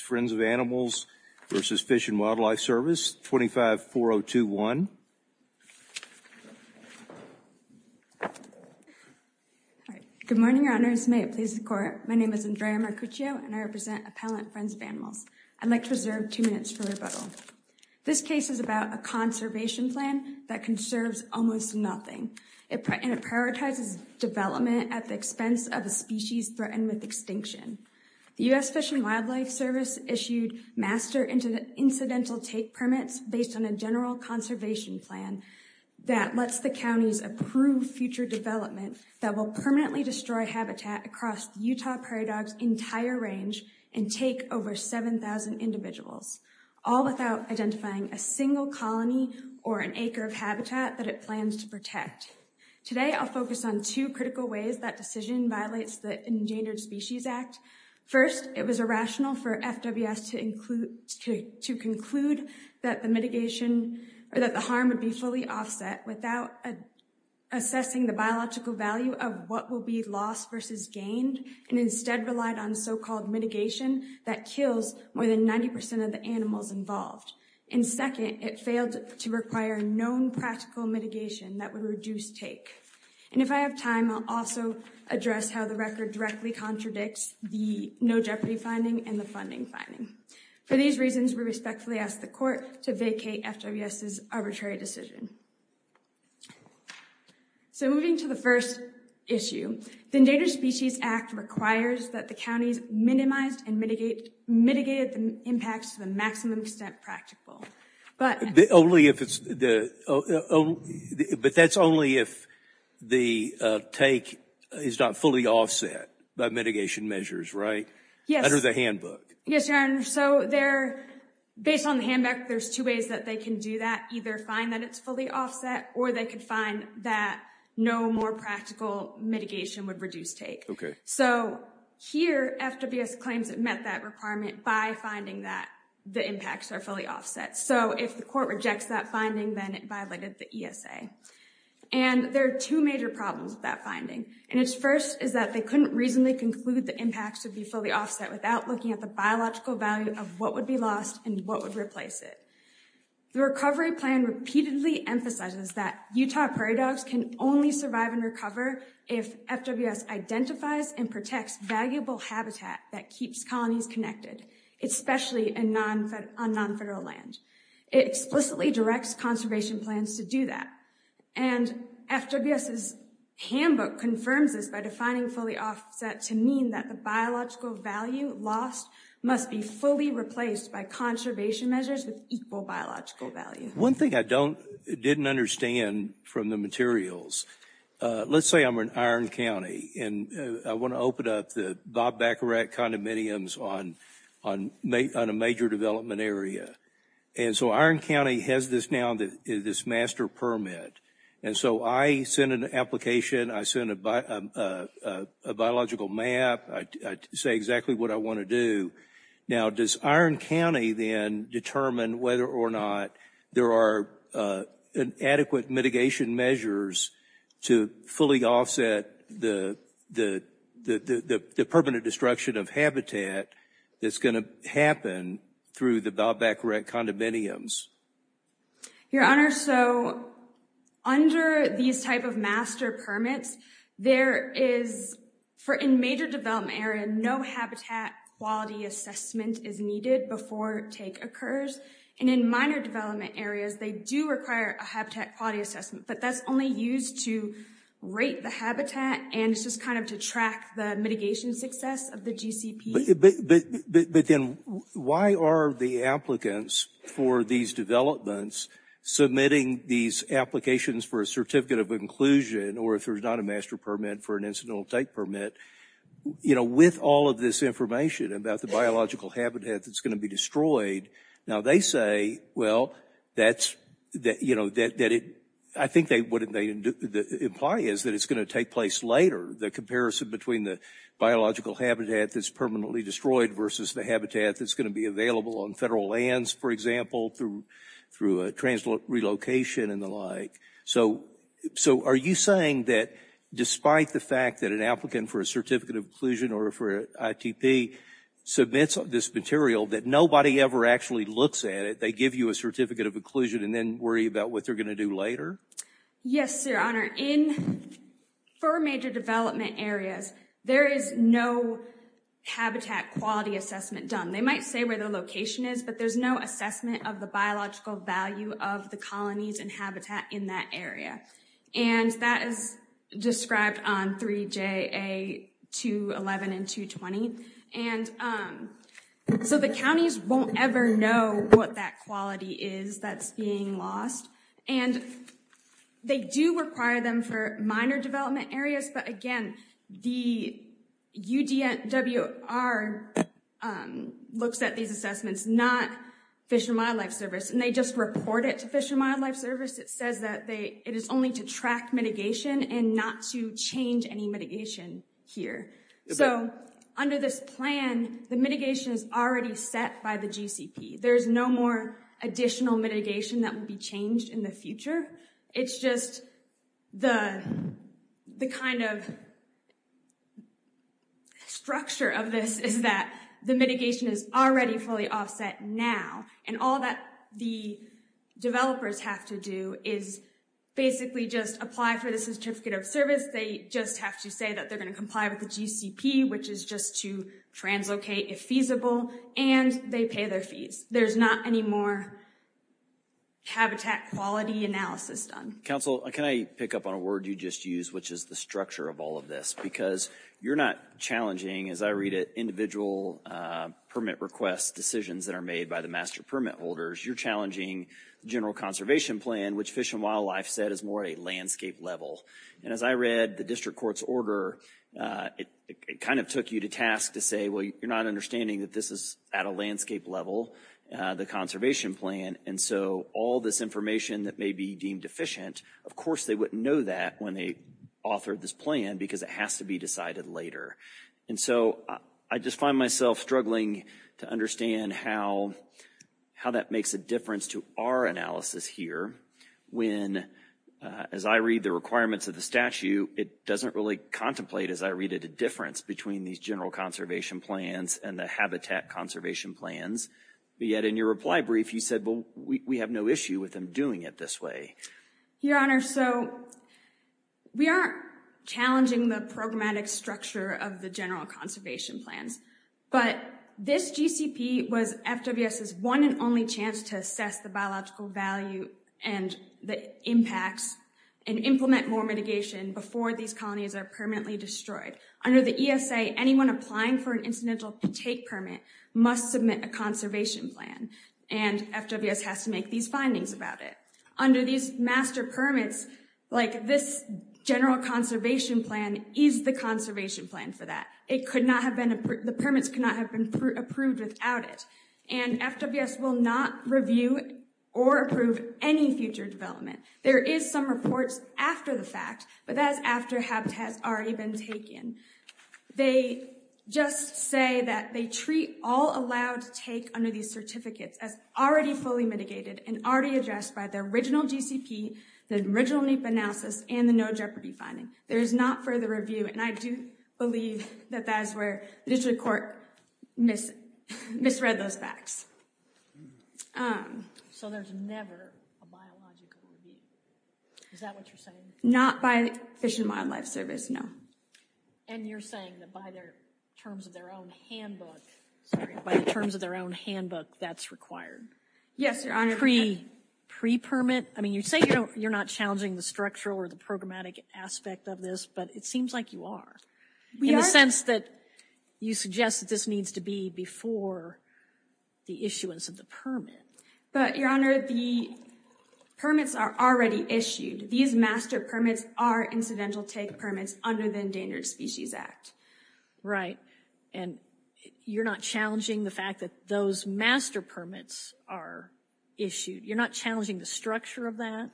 Friends of Animals v. Fish and Wildlife Service, 25-402-1. Good morning, Your Honors. May it please the Court, my name is Andrea Mercuccio and I represent Appellant Friends of Animals. I'd like to reserve two minutes for rebuttal. This case is about a conservation plan that conserves almost nothing. It prioritizes development at the expense of a species threatened with extinction. The U.S. Fish and Wildlife Service issued master incidental take permits based on a general conservation plan that lets the counties approve future development that will permanently destroy habitat across the Utah Prairie Dogs' entire range and take over 7,000 individuals, all without identifying a single colony or an acre of habitat that it plans to protect. Today, I'll focus on two critical ways that decision violates the Endangered Species Act. First, it was irrational for FWS to conclude that the mitigation or that the harm would be fully offset without assessing the biological value of what will be lost versus gained and instead relied on so-called mitigation that kills more than 90% of the animals involved. And second, it failed to require known practical mitigation that would reduce take. And if I have time, I'll also address how the record directly contradicts the no jeopardy finding and the funding finding. For these reasons, we respectfully ask the court to vacate FWS's arbitrary decision. So moving to the first issue, the Endangered Species Act requires that the counties minimize and mitigate mitigated impacts to the maximum extent practical. But only if it's the oh, but that's only if the take is not fully offset by mitigation measures, right? Yes. Under the handbook. Yes, your honor. So they're based on the handbook. There's two ways that they can do that. Either find that it's fully offset or they can find that no more practical mitigation would reduce take. So here, FWS claims it met that requirement by finding that the impacts are fully offset. So if the court rejects that finding, then it violated the ESA. And there are two major problems with that finding. And it's first is that they couldn't reasonably conclude the impacts would be fully offset without looking at the biological value of what would be lost and what would replace it. The recovery plan repeatedly emphasizes that Utah prairie dogs can only survive and recover if FWS identifies and protects valuable habitat that keeps colonies connected, especially on non-federal land. It explicitly directs conservation plans to do that. And FWS's handbook confirms this by defining fully offset to mean that the biological value lost must be fully replaced by conservation measures with equal biological value. One thing I don't didn't understand from the materials. Let's say I'm in Iron County and I want to open up the Bob Baccarat condominiums on on a major development area. And so Iron County has this now that is this master permit. And so I send an application. I send a biological map. I say exactly what I want to do. Now, does Iron County then determine whether or not there are adequate mitigation measures to fully offset the the the permanent destruction of habitat that's going to happen through the Bob Baccarat condominiums? Your Honor, so under these type of master permits, there is for in major development area, no habitat quality assessment is needed before take occurs. And in minor development areas, they do require a habitat quality assessment. But that's only used to rate the habitat. And it's just kind of to track the mitigation success of the GCP. But then why are the applicants for these developments submitting these applications for a certificate of inclusion or if there's not a master permit for an incidental take permit? You know, with all of this information about the biological habitat that's going to be destroyed now, they say, well, that's that, you know, that that I think they wouldn't they imply is that it's going to take place later. The comparison between the biological habitat that's permanently destroyed versus the habitat that's going to be available on federal lands, for example, through through a trans relocation and the like. So so are you saying that despite the fact that an applicant for a certificate of inclusion or for ITP submits this material that nobody ever actually looks at it? They give you a certificate of inclusion and then worry about what they're going to do later? Yes, Your Honor. In for major development areas, there is no habitat quality assessment done. They might say where their location is, but there's no assessment of the biological value of the colonies and habitat in that area. And that is described on 3JA 211 and 220. And so the counties won't ever know what that quality is that's being lost. And they do require them for minor development areas. But again, the UDNWR looks at these assessments, not Fish and Wildlife Service, and they just report it to Fish and Wildlife Service. It says that they it is only to track mitigation and not to change any mitigation here. So under this plan, the mitigation is already set by the GCP. There is no more additional mitigation that will be changed in the future. It's just the kind of structure of this is that the mitigation is already fully offset now. And all that the developers have to do is basically just apply for the certificate of service. They just have to say that they're going to comply with the GCP, which is just to translocate if feasible, and they pay their fees. There's not any more habitat quality analysis done. Council, can I pick up on a word you just used, which is the structure of all of this, because you're not challenging, as I read it, individual permit request decisions that are made by the master permit holders. You're challenging the general conservation plan, which Fish and Wildlife said is more at a landscape level. And as I read the district court's order, it kind of took you to task to say, well, you're not understanding that this is at a landscape level, the conservation plan. And so all this information that may be deemed deficient, of course, they wouldn't know that when they authored this plan because it has to be decided later. And so I just find myself struggling to understand how that makes a difference to our analysis here when, as I read the requirements of the statute, it doesn't really contemplate, as I read it, a difference between these general conservation plans and the habitat conservation plans. Yet in your reply brief, you said, well, we have no issue with them doing it this way. Your Honor, so we aren't challenging the programmatic structure of the general conservation plans, but this GCP was FWS's one and only chance to assess the biological value and the impacts and implement more mitigation before these colonies are permanently destroyed. Under the ESA, anyone applying for an incidental take permit must submit a conservation plan, and FWS has to make these findings about it. Under these master permits, like this general conservation plan is the conservation plan for that. It could not have been, the permits could not have been approved without it. And FWS will not review or approve any future development. There is some reports after the fact, but that is after HABT has already been taken. They just say that they treat all allowed take under these certificates as already fully mitigated and already addressed by the original GCP, the original NEPA analysis, and the no jeopardy finding. There is not further review, and I do believe that that is where the District Court misread those facts. So there's never a biological review? Is that what you're saying? Not by Fish and Wildlife Service, no. And you're saying that by the terms of their own handbook, that's required? Yes, Your Honor. Pre-permit? I mean, you say you're not challenging the structural or the programmatic aspect of this, but it seems like you are. In the sense that you suggest that this needs to be before the issuance of the permit. But, Your Honor, the permits are already issued. These master permits are incidental take permits under the Endangered Species Act. Right. And you're not challenging the fact that those master permits are issued? You're not challenging the structure of that?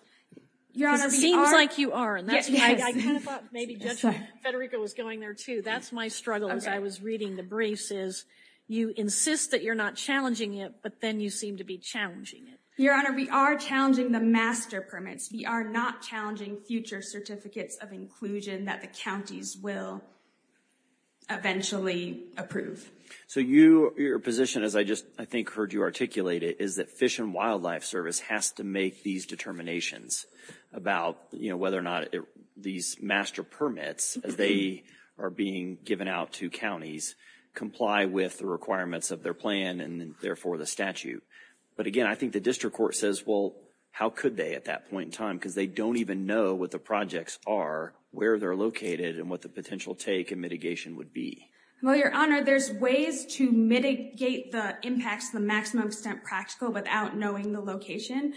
Your Honor, we are. It seems like you are, and that's why I kind of thought maybe Judge Federico was going there too. That's my struggle as I was reading the briefs, is you insist that you're not challenging it, but then you seem to be challenging it. Your Honor, we are challenging the master permits. We are not challenging future certificates of inclusion that the counties will eventually approve. So your position, as I just, I think, heard you articulate it, is that Fish and Wildlife Service has to make these determinations about, you know, whether or not these master permits, as they are being given out to counties, comply with the requirements of their plan and therefore the statute. But again, I think the district court says, well, how could they at that point in time, because they don't even know what the projects are, where they're located, and what the potential take and mitigation would be. Well, Your Honor, there's ways to mitigate the impacts to the maximum extent practical without knowing the location.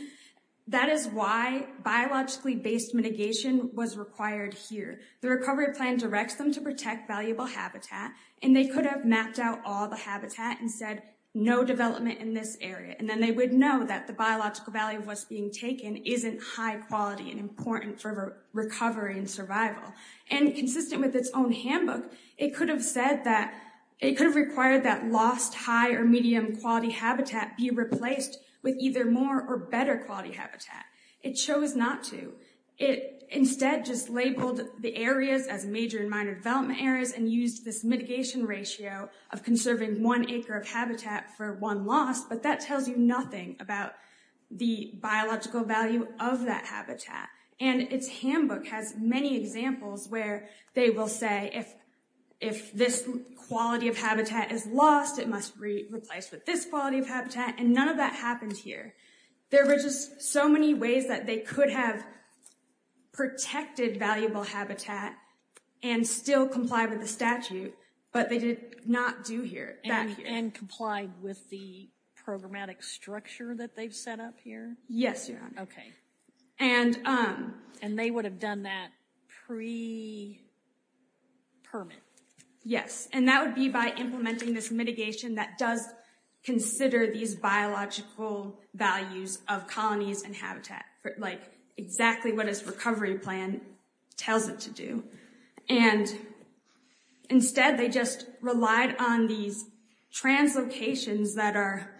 That is why biologically based mitigation was required here. The recovery plan directs them to protect valuable habitat, and they could have mapped out all the habitat and said, no development in this area. And then they would know that the biological value of what's being taken isn't high quality and important for recovery and survival. And consistent with its own handbook, it could have said that, it could have replaced with either more or better quality habitat. It chose not to. It instead just labeled the areas as major and minor development areas and used this mitigation ratio of conserving one acre of habitat for one loss. But that tells you nothing about the biological value of that habitat. And its handbook has many examples where they will say, if this quality of habitat is lost, it must be replaced with this quality of habitat. And none of that happens here. There were just so many ways that they could have protected valuable habitat and still comply with the statute, but they did not do here. And complied with the programmatic structure that they've set up here? Yes, Your Honor. Okay. And they would have done that pre-permit. Yes. And that would be by implementing this mitigation that does consider these biological values of colonies and habitat, like exactly what its recovery plan tells it to do. And instead, they just relied on these translocations that are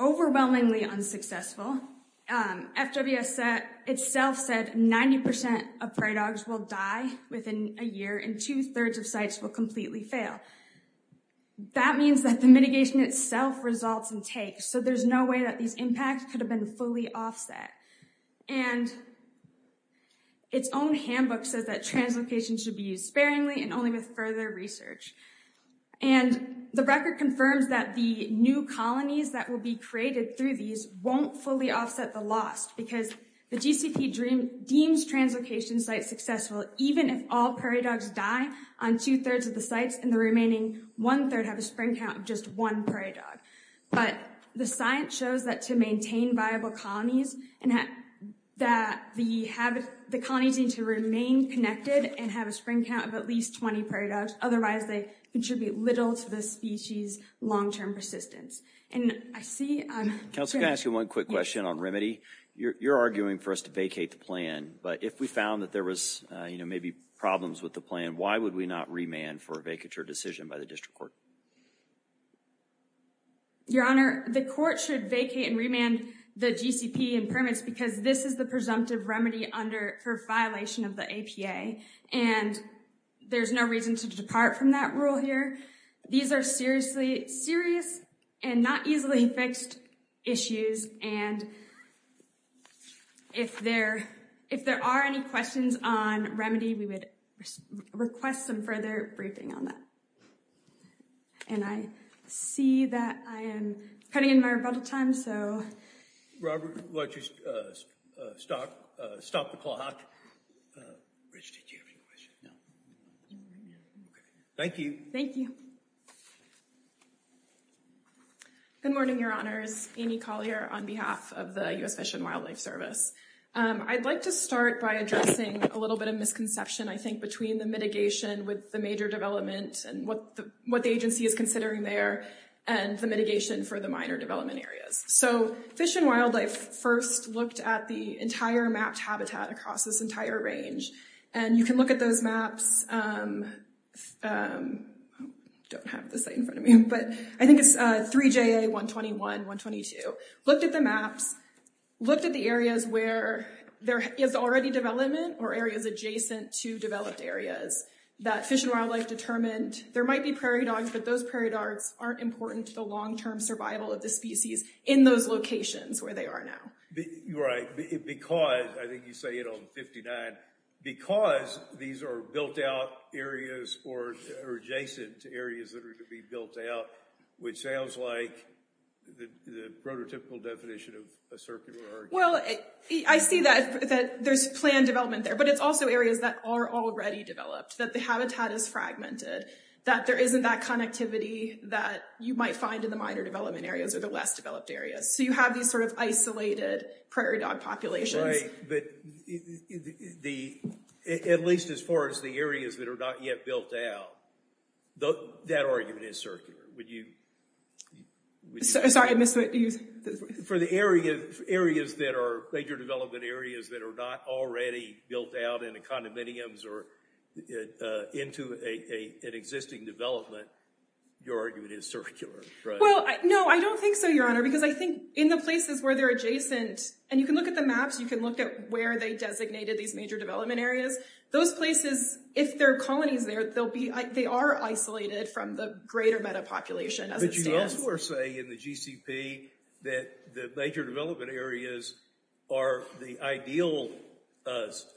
overwhelmingly unsuccessful. FWS itself said 90% of prey dogs will die within a year and two-thirds of sites will completely fail. That means that the mitigation itself results in takes. So there's no way that these impacts could have been fully offset. And its own handbook says that translocation should be used sparingly and only with further research. And the record confirms that the new colonies that will be created through these won't fully offset the loss because the GCP deems translocation sites successful even if all prairie dogs die on two-thirds of the sites and the remaining one-third have a spring count of just one prairie dog. But the science shows that to maintain viable colonies and that the colonies need to remain connected and have a spring count of at least 20 prairie dogs. Otherwise, they contribute little to the species' long-term persistence. And I see... Counselor, can I ask you one quick question on remedy? You're arguing for us to vacate the plan, but if we found that there was, you know, maybe problems with the plan, why would we not remand for a vacature decision by the district court? Your Honor, the court should vacate and remand the GCP and permits because this is the presumptive remedy under, for violation of the APA. And there's no reason to depart from that rule here. These are seriously serious and not easily fixed issues and if there are any questions on remedy, we would request some further briefing on that. And I see that I am cutting in my rebuttal time, so... Robert, why don't you stop the clock. Rich, did you have any questions? No? No. Thank you. Thank you. Good morning, Your Honors. Amy Collier on behalf of the U.S. Fish and Wildlife Service. I'd like to start by addressing a little bit of misconception, I think, between the mitigation with the major development and what the agency is considering there and the mitigation for the minor development areas. So, Fish and Wildlife first looked at the entire mapped entire range. And you can look at those maps. I don't have the site in front of me, but I think it's 3JA 121, 122. Looked at the maps, looked at the areas where there is already development or areas adjacent to developed areas that Fish and Wildlife determined there might be prairie dogs, but those prairie dogs aren't important to the long-term survival of the species in those locations where they are now. Right. Because, I think you say it on 59, because these are built-out areas or adjacent areas that are going to be built out, which sounds like the prototypical definition of a circular area. Well, I see that there's planned development there, but it's also areas that are already developed, that the habitat is fragmented, that there isn't that connectivity that you might find in the minor development areas or the less developed areas. So, you have these sort of isolated prairie dog populations. Right. But, at least as far as the areas that are not yet built out, that argument is circular. Would you... Sorry, I missed what you... For the areas that are major development areas that are not already built out in a condominiums or into an existing development, your argument is circular, right? Well, no, I don't think so, Your Honor, because I think in the places where they're adjacent, and you can look at the maps, you can look at where they designated these major development areas, those places, if there are colonies there, they are isolated from the greater meta-population as it stands. But, you also are saying in the GCP that the major development areas are the ideal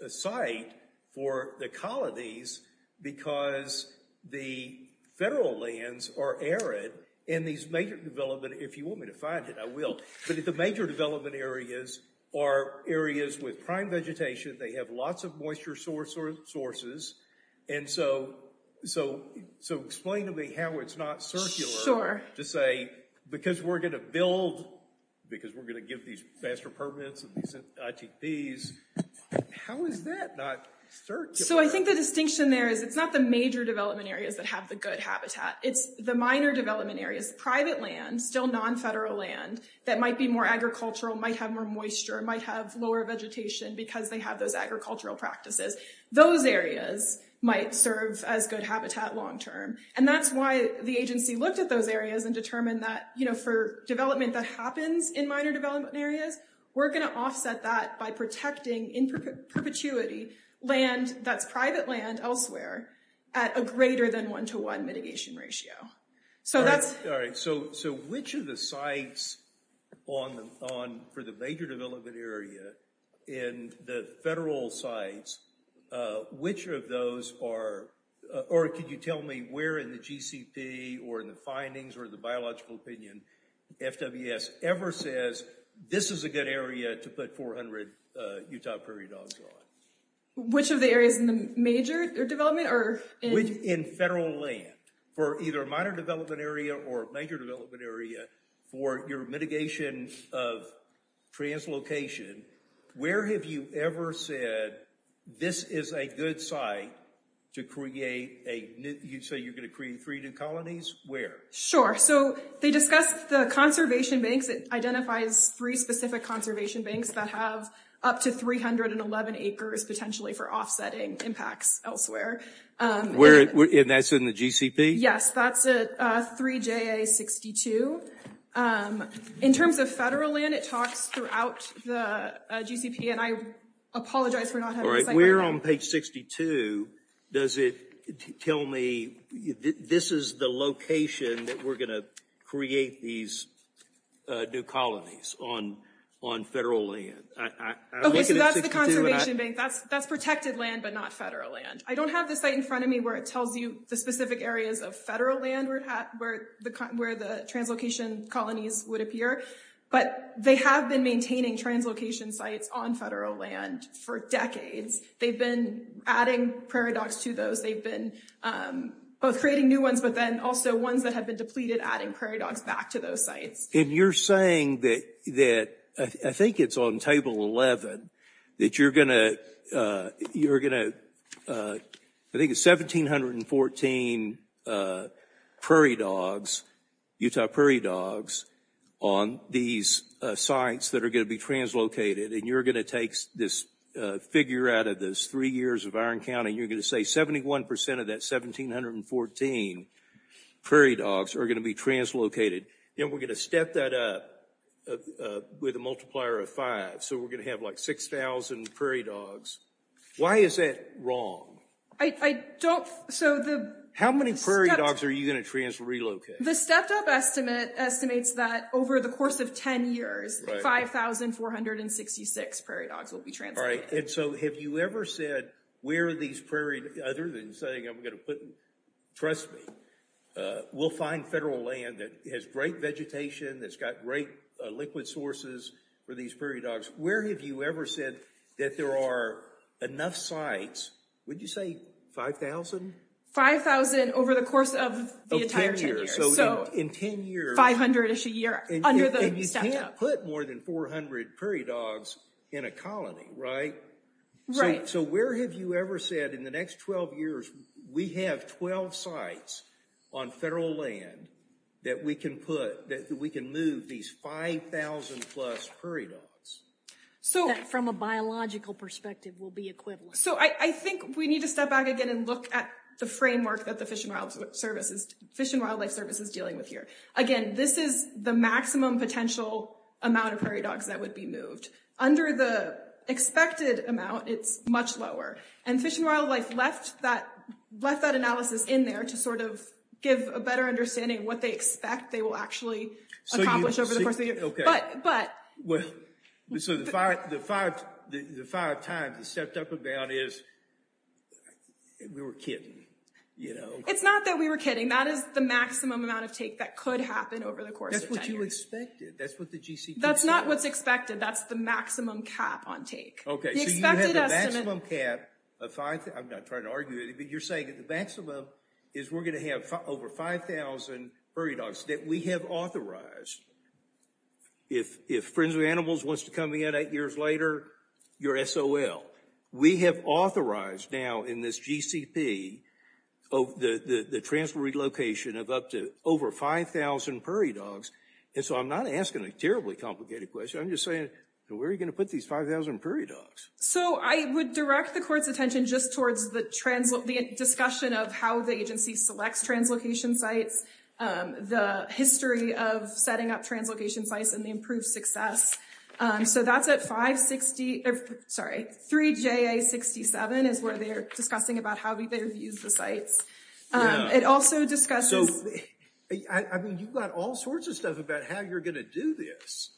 site for the colonies because the federal lands are arid, and these major development, if you want me to find it, I will, but the major development areas are areas with prime vegetation, they have lots of moisture sources. And so, explain to me how it's not circular to say, because we're going to build, because we're going to give these faster permits and these are going to be able to take these, how is that not circular? So, I think the distinction there is it's not the major development areas that have the good habitat, it's the minor development areas, private land, still non-federal land, that might be more agricultural, might have more moisture, might have lower vegetation because they have those agricultural practices. Those areas might serve as good habitat long-term. And that's why the agency looked at those areas and determined that, you know, for development that happens in minor development areas, we're going to offset that by protecting in perpetuity land that's private land elsewhere at a greater than one-to-one mitigation ratio. All right. So, which of the sites for the major development area in the federal sites, which of those are, or could you tell me where in the GCP or in the findings or the biological opinion, FWS ever says, this is a good area to put 400 Utah prairie dogs on? Which of the areas in the major development or... In federal land, for either a minor development area or a major development area for your mitigation of translocation, where have you ever said, this is a good site to create a new, you say you're going to create three new colonies, where? Sure. So, they discussed the conservation banks. It identifies three specific conservation banks that have up to 311 acres potentially for offsetting impacts elsewhere. And that's in the GCP? Yes, that's a 3JA62. In terms of federal land, it talks throughout the GCP. And I apologize for not having a second. Where on page 62 does it tell me, this is the location that we're going to create these new colonies on federal land? Okay, so that's the conservation bank. That's protected land, but not federal land. I don't have the site in front of me where it tells you the specific areas of federal land where the translocation colonies would appear. But they have been maintaining translocation sites on federal land for decades. They've been adding prairie dogs to those. They've been both creating new ones, but then also ones that have been depleted, adding prairie dogs back to those sites. And you're saying that, I think it's on table 11, that you're going to, I think it's 1,714 prairie dogs, Utah prairie dogs on these sites that are going to be translocated. And you're going to take this figure out of those three years of iron counting. You're going to say 71 percent of that 1,714 prairie dogs are going to be translocated. And we're going to step that up with a multiplier of five. So we're going to have like 6,000 prairie dogs. Why is that wrong? I don't, so the... How many prairie dogs are you going to trans relocate? The stepped up estimate estimates that over the course of 10 years, 5,466 prairie dogs will be translocated. All right. And so have you ever said, where are these prairie, other than saying, I'm going to put, trust me, we'll find federal land that has great vegetation, that's got great liquid sources for these prairie dogs. Where have you ever said that there are enough sites, would you say 5,000? 5,000 over the course of the entire 10 years. In 10 years. 500-ish a year under the stepped up. And you can't put more than 400 prairie dogs in a colony, right? Right. So where have you ever said in the next 12 years, we have 12 sites on federal land that we can put, that we can move these 5,000 plus prairie dogs? From a biological perspective will be equivalent. So I think we need to step back again and look at the framework that the Fish and Wildlife Service is dealing with here. Again, this is the maximum potential amount of prairie dogs that would be moved. Under the expected amount, it's much lower. And Fish and Wildlife left that analysis in there to sort of give a better understanding of what they expect they will actually accomplish over the course of the year. Okay. Well, so the five times the stepped up and down is, we were kidding, you know? It's not that we were kidding. That is the maximum amount of take that could happen over the course of 10 years. That's what you expected. That's what the GCP said. That's not what's expected. That's the maximum cap on take. Okay. So you have the maximum cap of 5,000, I'm not trying to argue it, but you're saying that the maximum is we're going to have over 5,000 prairie dogs that we have authorized. If Friends of Animals wants to come in eight years later, you're SOL. We have authorized now in this GCP the transfer relocation of up to over 5,000 prairie dogs. And so I'm not asking a terribly complicated question. I'm just saying, where are you going to put these 5,000 prairie dogs? So I would direct the court's attention just towards the discussion of how the agency selects translocation sites, the history of setting up translocation sites, and the improved success. So that's at 560, sorry, 3JA67 is where they're discussing about how they've used the sites. It also discusses... So, I mean, you've got all sorts of stuff about how you're going to do this.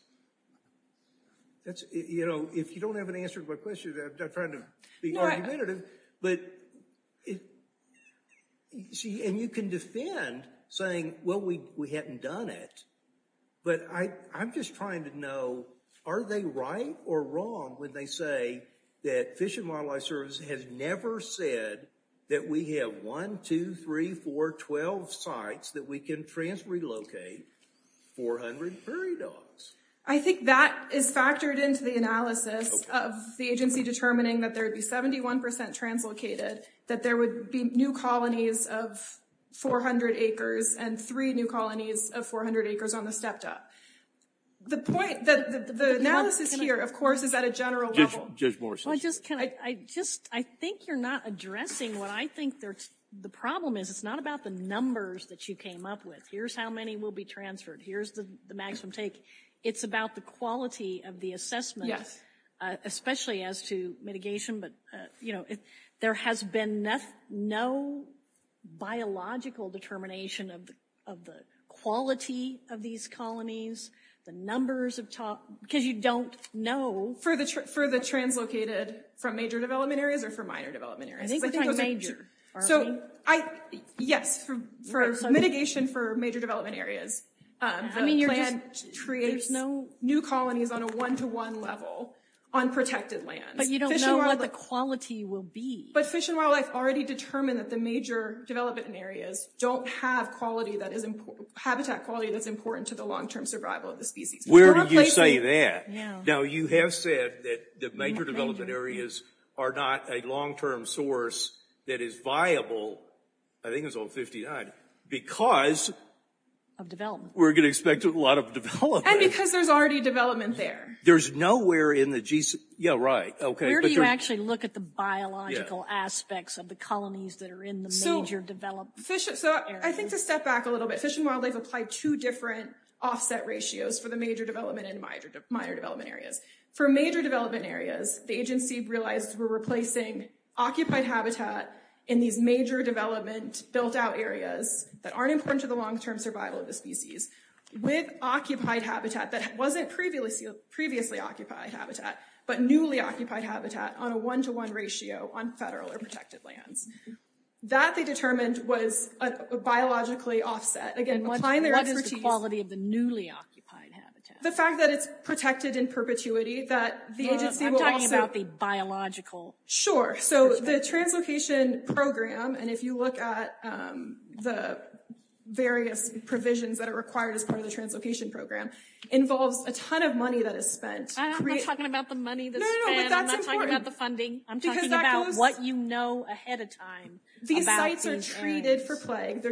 That's, you know, if you don't have an answer to my question, I'm trying to be argumentative. But see, and you can defend saying, well, we hadn't done it. But I'm just trying to know, are they right or wrong when they say that Fish and Wildlife Service has never said that we have one, two, three, four, 12 sites that we can trans-relocate 400 prairie dogs? I think that is factored into the analysis of the agency determining that there would be 71% translocated, that there would be new colonies of 400 acres and three new colonies of 400 acres on the stepped up. The point that the analysis here, of course, is at a general level. Judge Morris. Well, just, can I just, I think you're not addressing what I think the problem is. It's not about the numbers that you came up with. Here's how many will be transferred. Here's the maximum take. It's about the quality of the assessment, especially as to mitigation. You know, there has been no biological determination of the quality of these colonies, the numbers of top, because you don't know. For the translocated from major development areas or for minor development areas? Yes, for mitigation for major development areas, the plan creates new colonies on a one-to-one level on protected lands. But you don't know what the quality will be. But Fish and Wildlife already determined that the major development areas don't have quality that is important, habitat quality that's important to the long-term survival of the species. Where did you say that? Now, you have said that the major development areas are not a long-term source that is viable, I think it was old 59, because. Of development. We're going to expect a lot of development. And because there's already development there. There's nowhere in the, yeah, right. Where do you actually look at the biological aspects of the colonies that are in the major development areas? So I think to step back a little bit, Fish and Wildlife applied two different offset ratios for the major development and minor development areas. For major development areas, the agency realized we're replacing occupied habitat in these major development built-out areas that aren't important to the long-term survival of the species with occupied habitat that wasn't previously occupied habitat, but newly occupied habitat on a one-to-one ratio on federal or protected lands. That they determined was a biologically offset. Again, applying their expertise. What is the quality of the newly occupied habitat? The fact that it's protected in perpetuity, that the agency will also. I'm talking about the biological. Sure. So the translocation program, and if you look at the various provisions that are required as part of the translocation program, involves a ton of money that is spent. I'm not talking about the money that's spent. No, no, no, but that's important. I'm not talking about the funding. I'm talking about what you know ahead of time about these areas. These sites are treated for plague.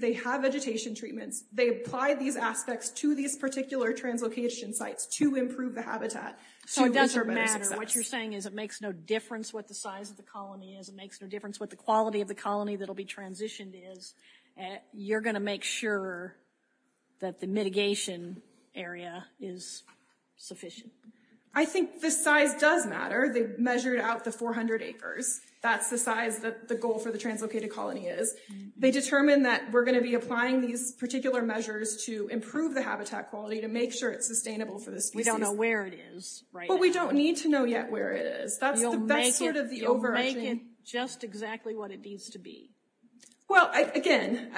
They have vegetation treatments. They apply these aspects to these particular translocation sites to improve the habitat. So it doesn't matter. What you're saying is it makes no difference what the size of the colony is. It makes no difference what the quality of the colony that will be transitioned is. You're going to make sure that the mitigation area is sufficient. I think the size does matter. They've measured out the 400 acres. That's the size that the goal for the translocated colony is. They determine that we're going to be applying these particular measures to improve the habitat quality, to make sure it's sustainable for the species. We don't know where it is right now. But we don't need to know yet where it is. That's sort of the overarching... You'll make it just exactly what it needs to be. Well, again,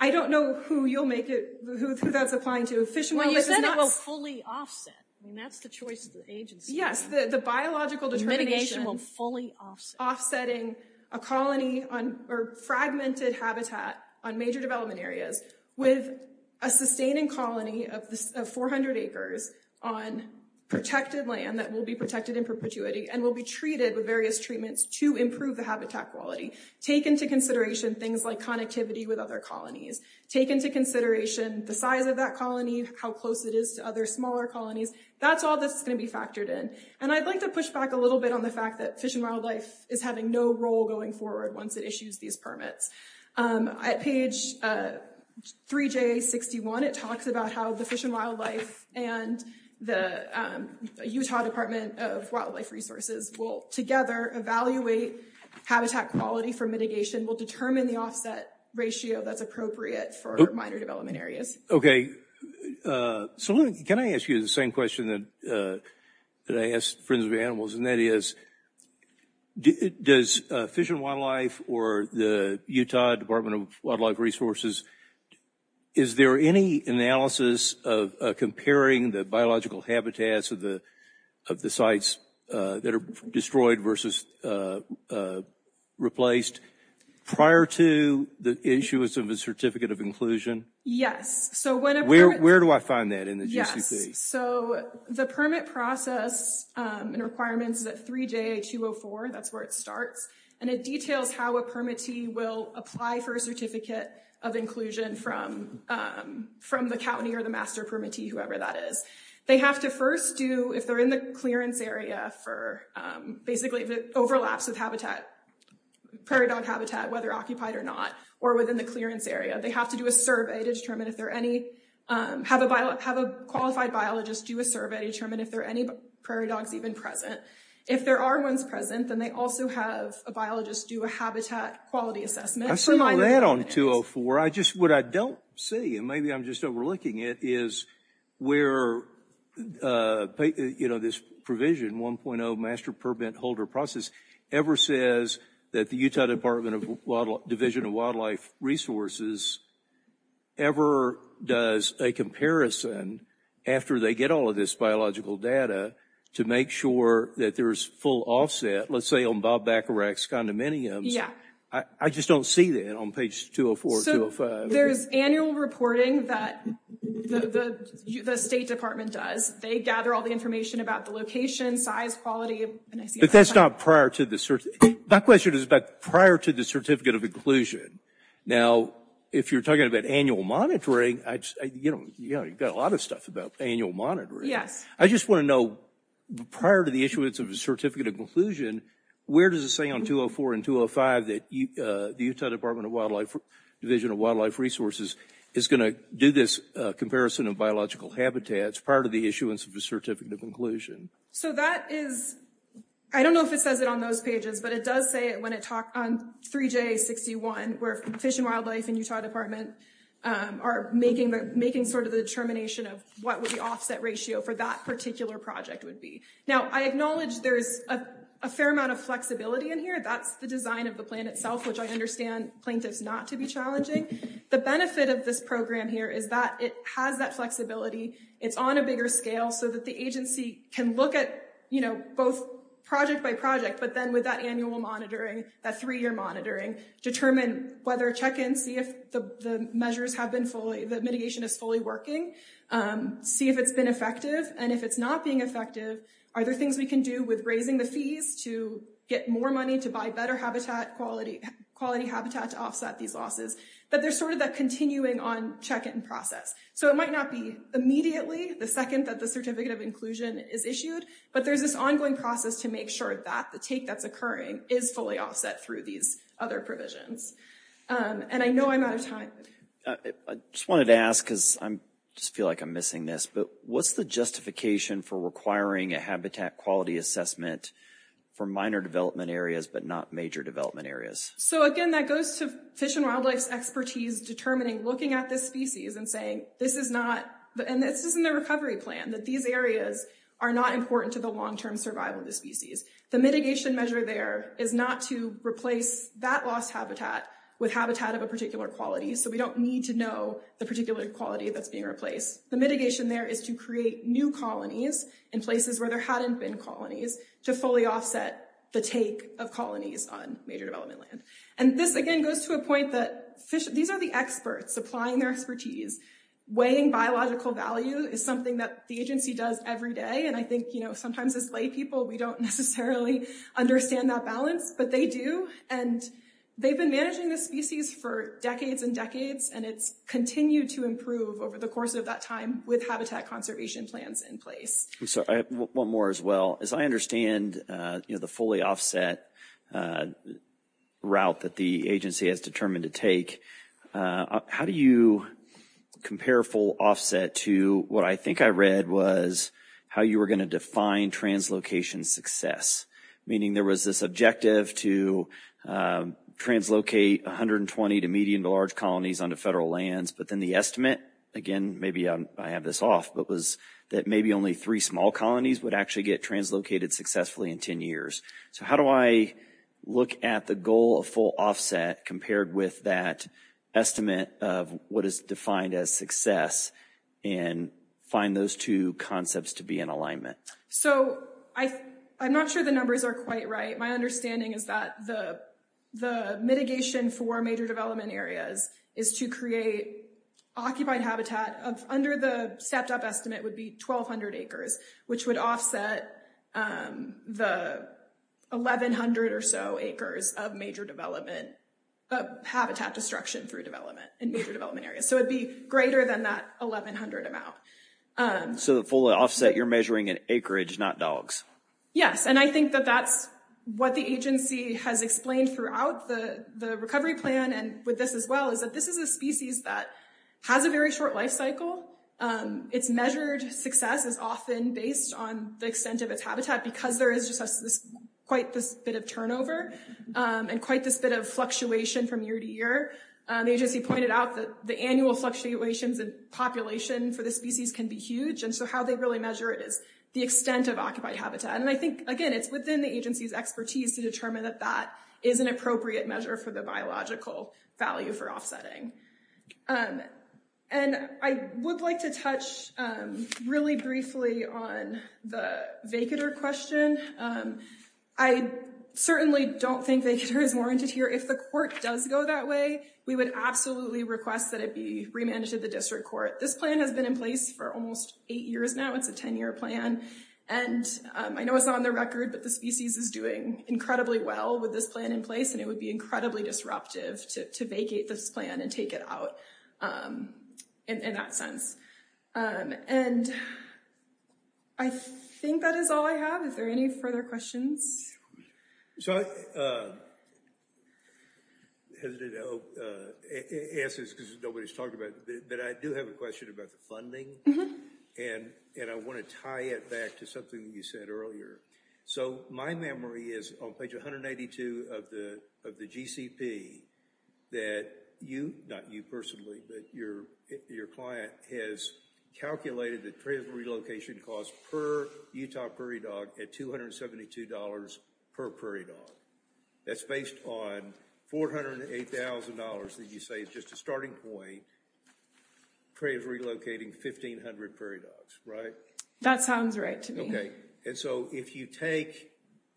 I don't know who you'll make it, who that's applying to. If Fish and Wildlife is not... Well, you said it will fully offset. That's the choice of the agency. The biological determination... Mitigation will fully offset. Offsetting a colony or fragmented habitat on major development areas with a sustaining colony of 400 acres on protected land that will be protected in perpetuity and will be treated with various treatments to improve the habitat quality. Take into consideration things like connectivity with other colonies. Take into consideration the size of that colony, how close it is to other smaller colonies. That's all that's going to be factored in. And I'd like to push back a little bit on the fact that Fish and Wildlife is having no role going forward once it issues these permits. At page 3JA61, it talks about how the Fish and Wildlife and the Utah Department of Wildlife Resources will together evaluate habitat quality for mitigation, will determine the offset ratio that's appropriate for minor development areas. Okay, so can I ask you the same question that I asked Friends of the Animals, and that is, does Fish and Wildlife or the Utah Department of Wildlife Resources, is there any analysis of comparing the biological habitats of the sites that are destroyed versus replaced prior to the issuance of a Certificate of Inclusion? Yes. So where do I find that in the GCP? So the permit process and requirements is at 3JA204. That's where it starts. And it details how a permittee will apply for a Certificate of Inclusion from the county or the master permittee, whoever that is. They have to first do, if they're in the clearance area for, basically if it overlaps with habitat, prairie dog habitat, whether occupied or not, or within the clearance area, they have to do a survey to determine if there are any, have a qualified biologist do a survey to determine if there are any prairie dogs even present. If there are ones present, then they also have a biologist do a habitat quality assessment. I've seen that on 204. I just, what I don't see, and maybe I'm just overlooking it, is where, you know, this provision, 1.0 Master Permit Holder Process, ever says that the Utah Department of Division of Wildlife Resources ever does a comparison after they get all of this biological data to make sure that there's full offset. Let's say on Bob Bacharach's condominiums. Yeah. I just don't see that on page 204, 205. There's annual reporting that the State Department does. They gather all the information about the location, size, quality. But that's not prior to the, that question is about prior to the Certificate of Inclusion. Now, if you're talking about annual monitoring, I just, you know, you've got a lot of stuff about annual monitoring. Yes. I just want to know, prior to the issuance of a Certificate of Inclusion, where does it say on 204 and 205 that the Utah Department of Wildlife, Division of Wildlife Resources is going to do this comparison of biological habitats prior to the issuance of a Certificate of Inclusion? So that is, I don't know if it says it on those pages, but it does say it when it talked on 3J61, where Fish and Wildlife and Utah Department are making the, making sort of the determination of what would the offset ratio for that particular project would be. Now, I acknowledge there's a fair amount of flexibility in here. That's the design of the plan itself, which I understand plaintiffs not to be challenging. The benefit of this program here is that it has that flexibility. It's on a bigger scale so that the agency can look at, you know, both project by project, but then with that annual monitoring, that three-year monitoring, determine whether check in, see if the measures have been fully, the mitigation is fully working, see if it's been effective. And if it's not being effective, are there things we can do with raising the fees to get more money to buy better habitat quality, quality habitat to offset these losses? But there's sort of that continuing on check-in process. So it might not be immediately the second that the certificate of inclusion is issued, but there's this ongoing process to make sure that the take that's occurring is fully offset through these other provisions. And I know I'm out of time. I just wanted to ask, because I just feel like I'm missing this, but what's the justification for requiring a habitat quality assessment for minor development areas, but not major development areas? So again, that goes to Fish and Wildlife's expertise, determining, looking at this species and saying, this is not, and this isn't a recovery plan, that these areas are not important to the long-term survival of the species. The mitigation measure there is not to replace that lost habitat with habitat of a particular quality. So we don't need to know the particular quality that's being replaced. The mitigation there is to create new colonies in places where there hadn't been colonies to fully offset the take of colonies on major development land. And this, again, goes to a point that these are the experts supplying their expertise. Weighing biological value is something that the agency does every day. And I think, you know, sometimes as laypeople, we don't necessarily understand that balance, but they do. And they've been managing this species for decades and decades, and it's continued to improve over the course of that time with habitat conservation plans in place. I'm sorry, one more as well. As I understand, you know, the fully offset route that the agency has determined to take, how do you compare full offset to what I think I read was how you were going to define translocation success? Meaning there was this objective to translocate 120 to median to large colonies onto federal lands, but then the estimate, again, maybe I have this off, but was that maybe only three small colonies would actually get translocated successfully in 10 years? So how do I look at the goal of full offset compared with that estimate of what is defined as success and find those two concepts to be in alignment? So I'm not sure the numbers are quite right. My understanding is that the mitigation for major development areas is to create occupied habitat of under the stepped up estimate would be 1,200 acres, which would offset the 1,100 or so acres of major development, of habitat destruction through development in major development areas. So it'd be greater than that 1,100 amount. So the full offset you're measuring in acreage, not dogs. Yes, and I think that that's what the agency has explained throughout the recovery plan and with this as well, is that this is a species that has a very short life cycle. It's measured success is often based on the extent of its habitat because there is quite this bit of turnover and quite this bit of fluctuation from year to year. The agency pointed out that the annual fluctuations in population for the species can be huge. And so how they really measure it is the extent of occupied habitat. And I think, again, it's within the agency's expertise to determine that that is an appropriate measure for the biological value for offsetting. And I would like to touch really briefly on the vacater question. I certainly don't think vacater is warranted here. If the court does go that way, we would absolutely request that it be remanded to the district court. This plan has been in place for almost eight years now. It's a 10 year plan. And I know it's on the record, but the species is doing incredibly well with this plan in place, and it would be incredibly disruptive to vacate this plan and take it out in that sense. And I think that is all I have. Is there any further questions? So I'm hesitant to ask this because nobody's talked about it, but I do have a question about the funding. And I want to tie it back to something you said earlier. So my memory is on page 182 of the GCP that you, not you personally, but your client, has calculated the trade relocation cost per Utah prairie dog at $272 per prairie dog. That's based on $408,000 that you say is just a starting point for relocating 1,500 prairie dogs, right? That sounds right to me. And so if you take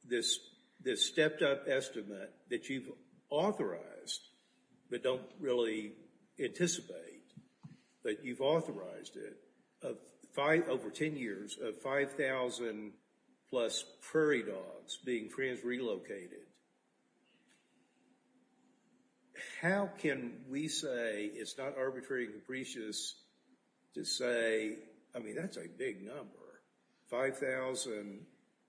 this stepped up estimate that you've authorized, but don't really anticipate that you've authorized it, over 10 years, of 5,000 plus prairie dogs being trans-relocated, how can we say it's not arbitrary and capricious to say, I mean, that's a big number. 5,000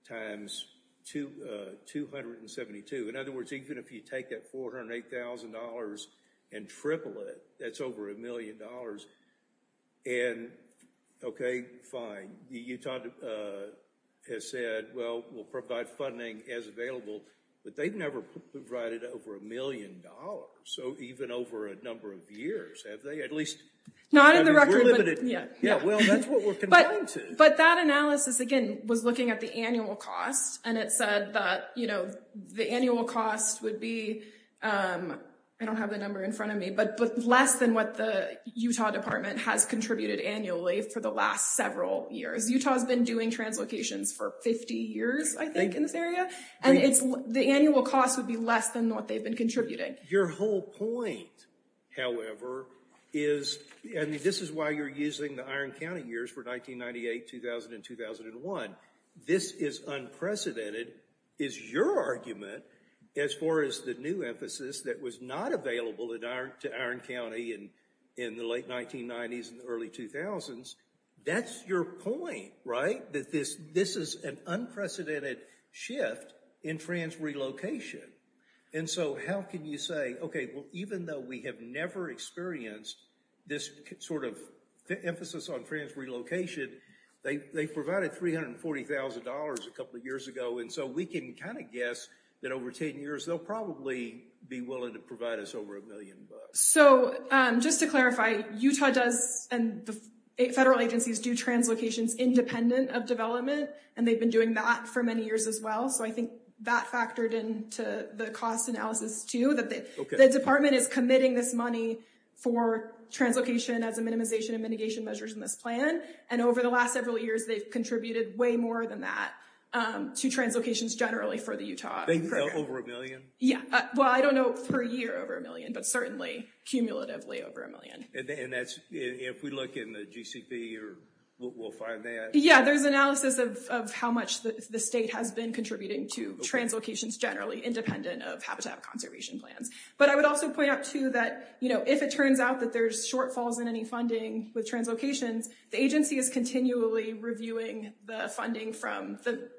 times 272. In other words, even if you take that $408,000 and triple it, that's over a million dollars. And OK, fine. The Utah has said, well, we'll provide funding as available. But they've never provided over a million dollars. So even over a number of years, have they? At least... Not in the record. We're limited. Yeah. Well, that's what we're confined to. But that analysis, again, was looking at the annual cost. And it said that the annual cost would be, I don't have the number in front of me, but less than what the Utah Department has contributed annually for the last several years. Utah has been doing translocations for 50 years, I think, in this area. And the annual cost would be less than what they've been contributing. Your whole point, however, is... I mean, this is why you're using the Iron County years for 1998, 2000, and 2001. This is unprecedented, is your argument, as far as the new emphasis that was not available to Iron County in the late 1990s and early 2000s. That's your point, right? That this is an unprecedented shift in trans relocation. And so, how can you say, okay, well, even though we have never experienced this sort of emphasis on trans relocation, they provided $340,000 a couple of years ago. And so, we can kind of guess that over 10 years, they'll probably be willing to provide us over a million bucks. So, just to clarify, Utah does... And the federal agencies do translocations independent of development. And they've been doing that for many years as well. So, I think that factored into the cost analysis, too. That the department is committing this money for translocation as a minimization and mitigation measures in this plan. And over the last several years, they've contributed way more than that to translocations generally for the Utah. They do that over a million? Yeah. Well, I don't know per year over a million, but certainly, cumulatively over a million. And if we look in the GCP, we'll find that. Yeah. There's analysis of how much the state has been contributing to translocations generally independent of habitat conservation plans. But I would also point out, too, that if it turns out that there's shortfalls in any funding with translocations, the agency is continually reviewing the funding from the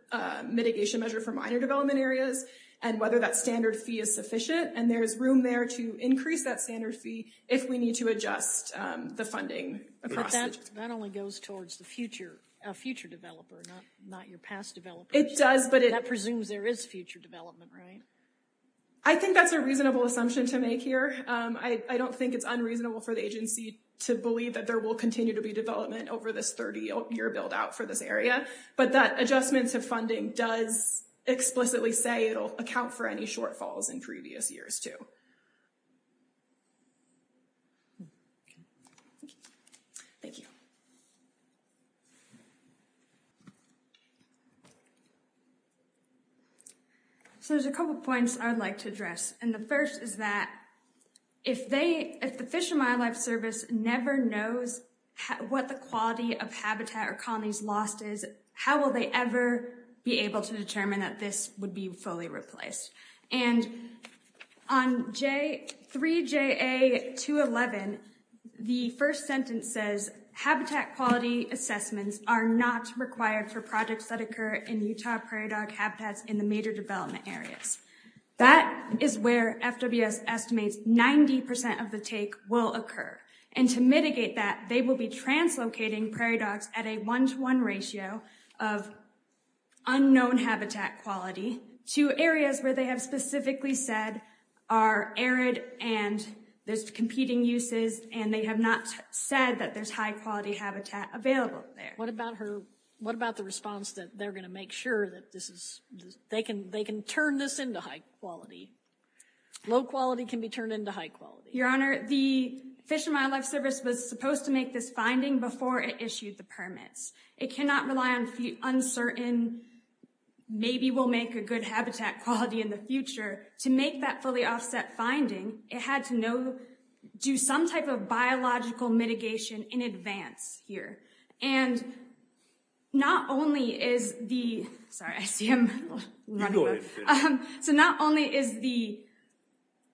mitigation measure for minor development areas and whether that standard fee is sufficient. And there's room there to increase that standard fee if we need to adjust the funding across the... That only goes towards the future developer, not your past developer. It does, but it... That presumes there is future development, right? I think that's a reasonable assumption to make here. I don't think it's unreasonable for the agency to believe that there will continue to be development over this 30-year build out for this area. But that adjustment to funding does explicitly say it'll account for any shortfalls in previous years, too. Thank you. So there's a couple of points I'd like to address. And the first is that if the Fish and Wildlife Service never knows what the quality of habitat or colonies lost is, how will they ever be able to determine that this would be fully replaced? And on 3JA211, the first sentence says, habitat quality assessments are not required for projects that occur in Utah prairie dog habitats in the major development areas. That is where FWS estimates 90% of the take will occur. And to mitigate that, they will be translocating prairie dogs at a one-to-one ratio of unknown habitat quality to areas where they have specifically said are arid and there's competing uses and they have not said that there's high-quality habitat available there. What about the response that they're going to make sure that they can turn this into high quality? Low quality can be turned into high quality. Your Honor, the Fish and Wildlife Service was supposed to make this finding before it issued the permits. It cannot rely on uncertain, maybe we'll make a good habitat quality in the future. To make that fully offset finding, it had to know, do some type of biological mitigation in advance here. And not only is the, sorry, I see him running. So not only is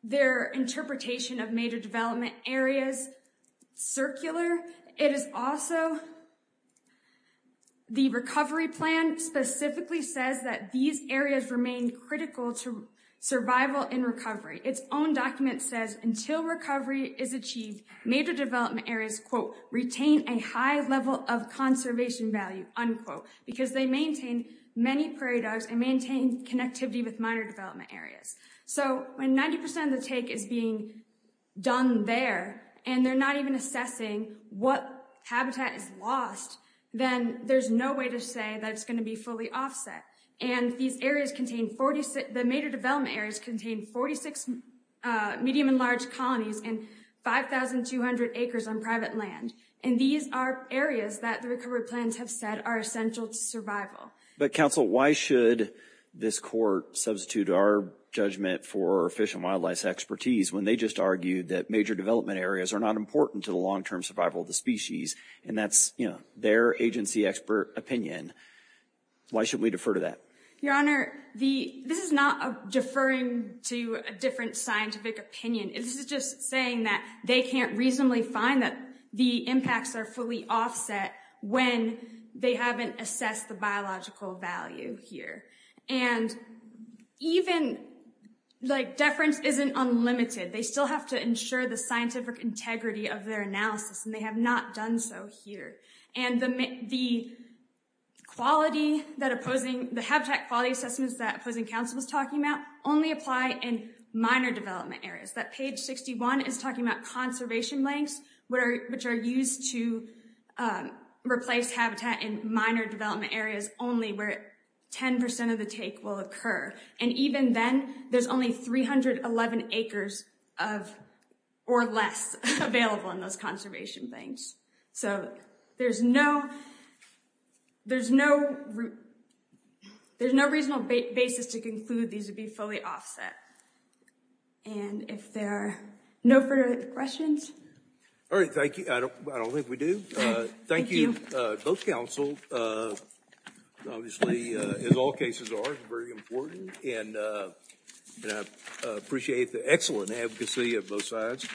their interpretation of major development areas circular, it is also the recovery plan specifically says that these areas remain critical to survival and recovery. Its own document says until recovery is achieved, major development areas, quote, retain a high level of conservation value, unquote, because they maintain many prairie dogs and maintain connectivity with minor development areas. So when 90% of the take is being done there and they're not even assessing what habitat is lost, then there's no way to say that it's going to be fully offset. And these areas contain 46, the major development areas contain 46 medium and large colonies and 5,200 acres on private land. And these are areas that the recovery plans have said are essential to survival. But counsel, why should this court substitute our judgment for Fish and Wildlife's expertise when they just argued that major development areas are not important to the long-term survival of the species? And that's their agency expert opinion. Why should we defer to that? Your Honor, this is not deferring to a different scientific opinion. This is just saying that they can't reasonably find that the impacts are fully offset when they haven't assessed the biological value here. And even like deference isn't unlimited. They still have to ensure the scientific integrity of their analysis. And they have not done so here. And the habitat quality assessments that opposing counsel was talking about only apply in minor development areas. That page 61 is talking about conservation links, which are used to replace habitat in minor development areas only where 10% of the take will occur. And even then, there's only 311 acres of or less available in those conservation banks. So there's no there's no there's no reasonable basis to conclude these would be fully offset. And if there are no further questions. All right, thank you. I don't think we do. Thank you both counsel. Obviously, as all cases are very important. And I appreciate the excellent advocacy of both sides.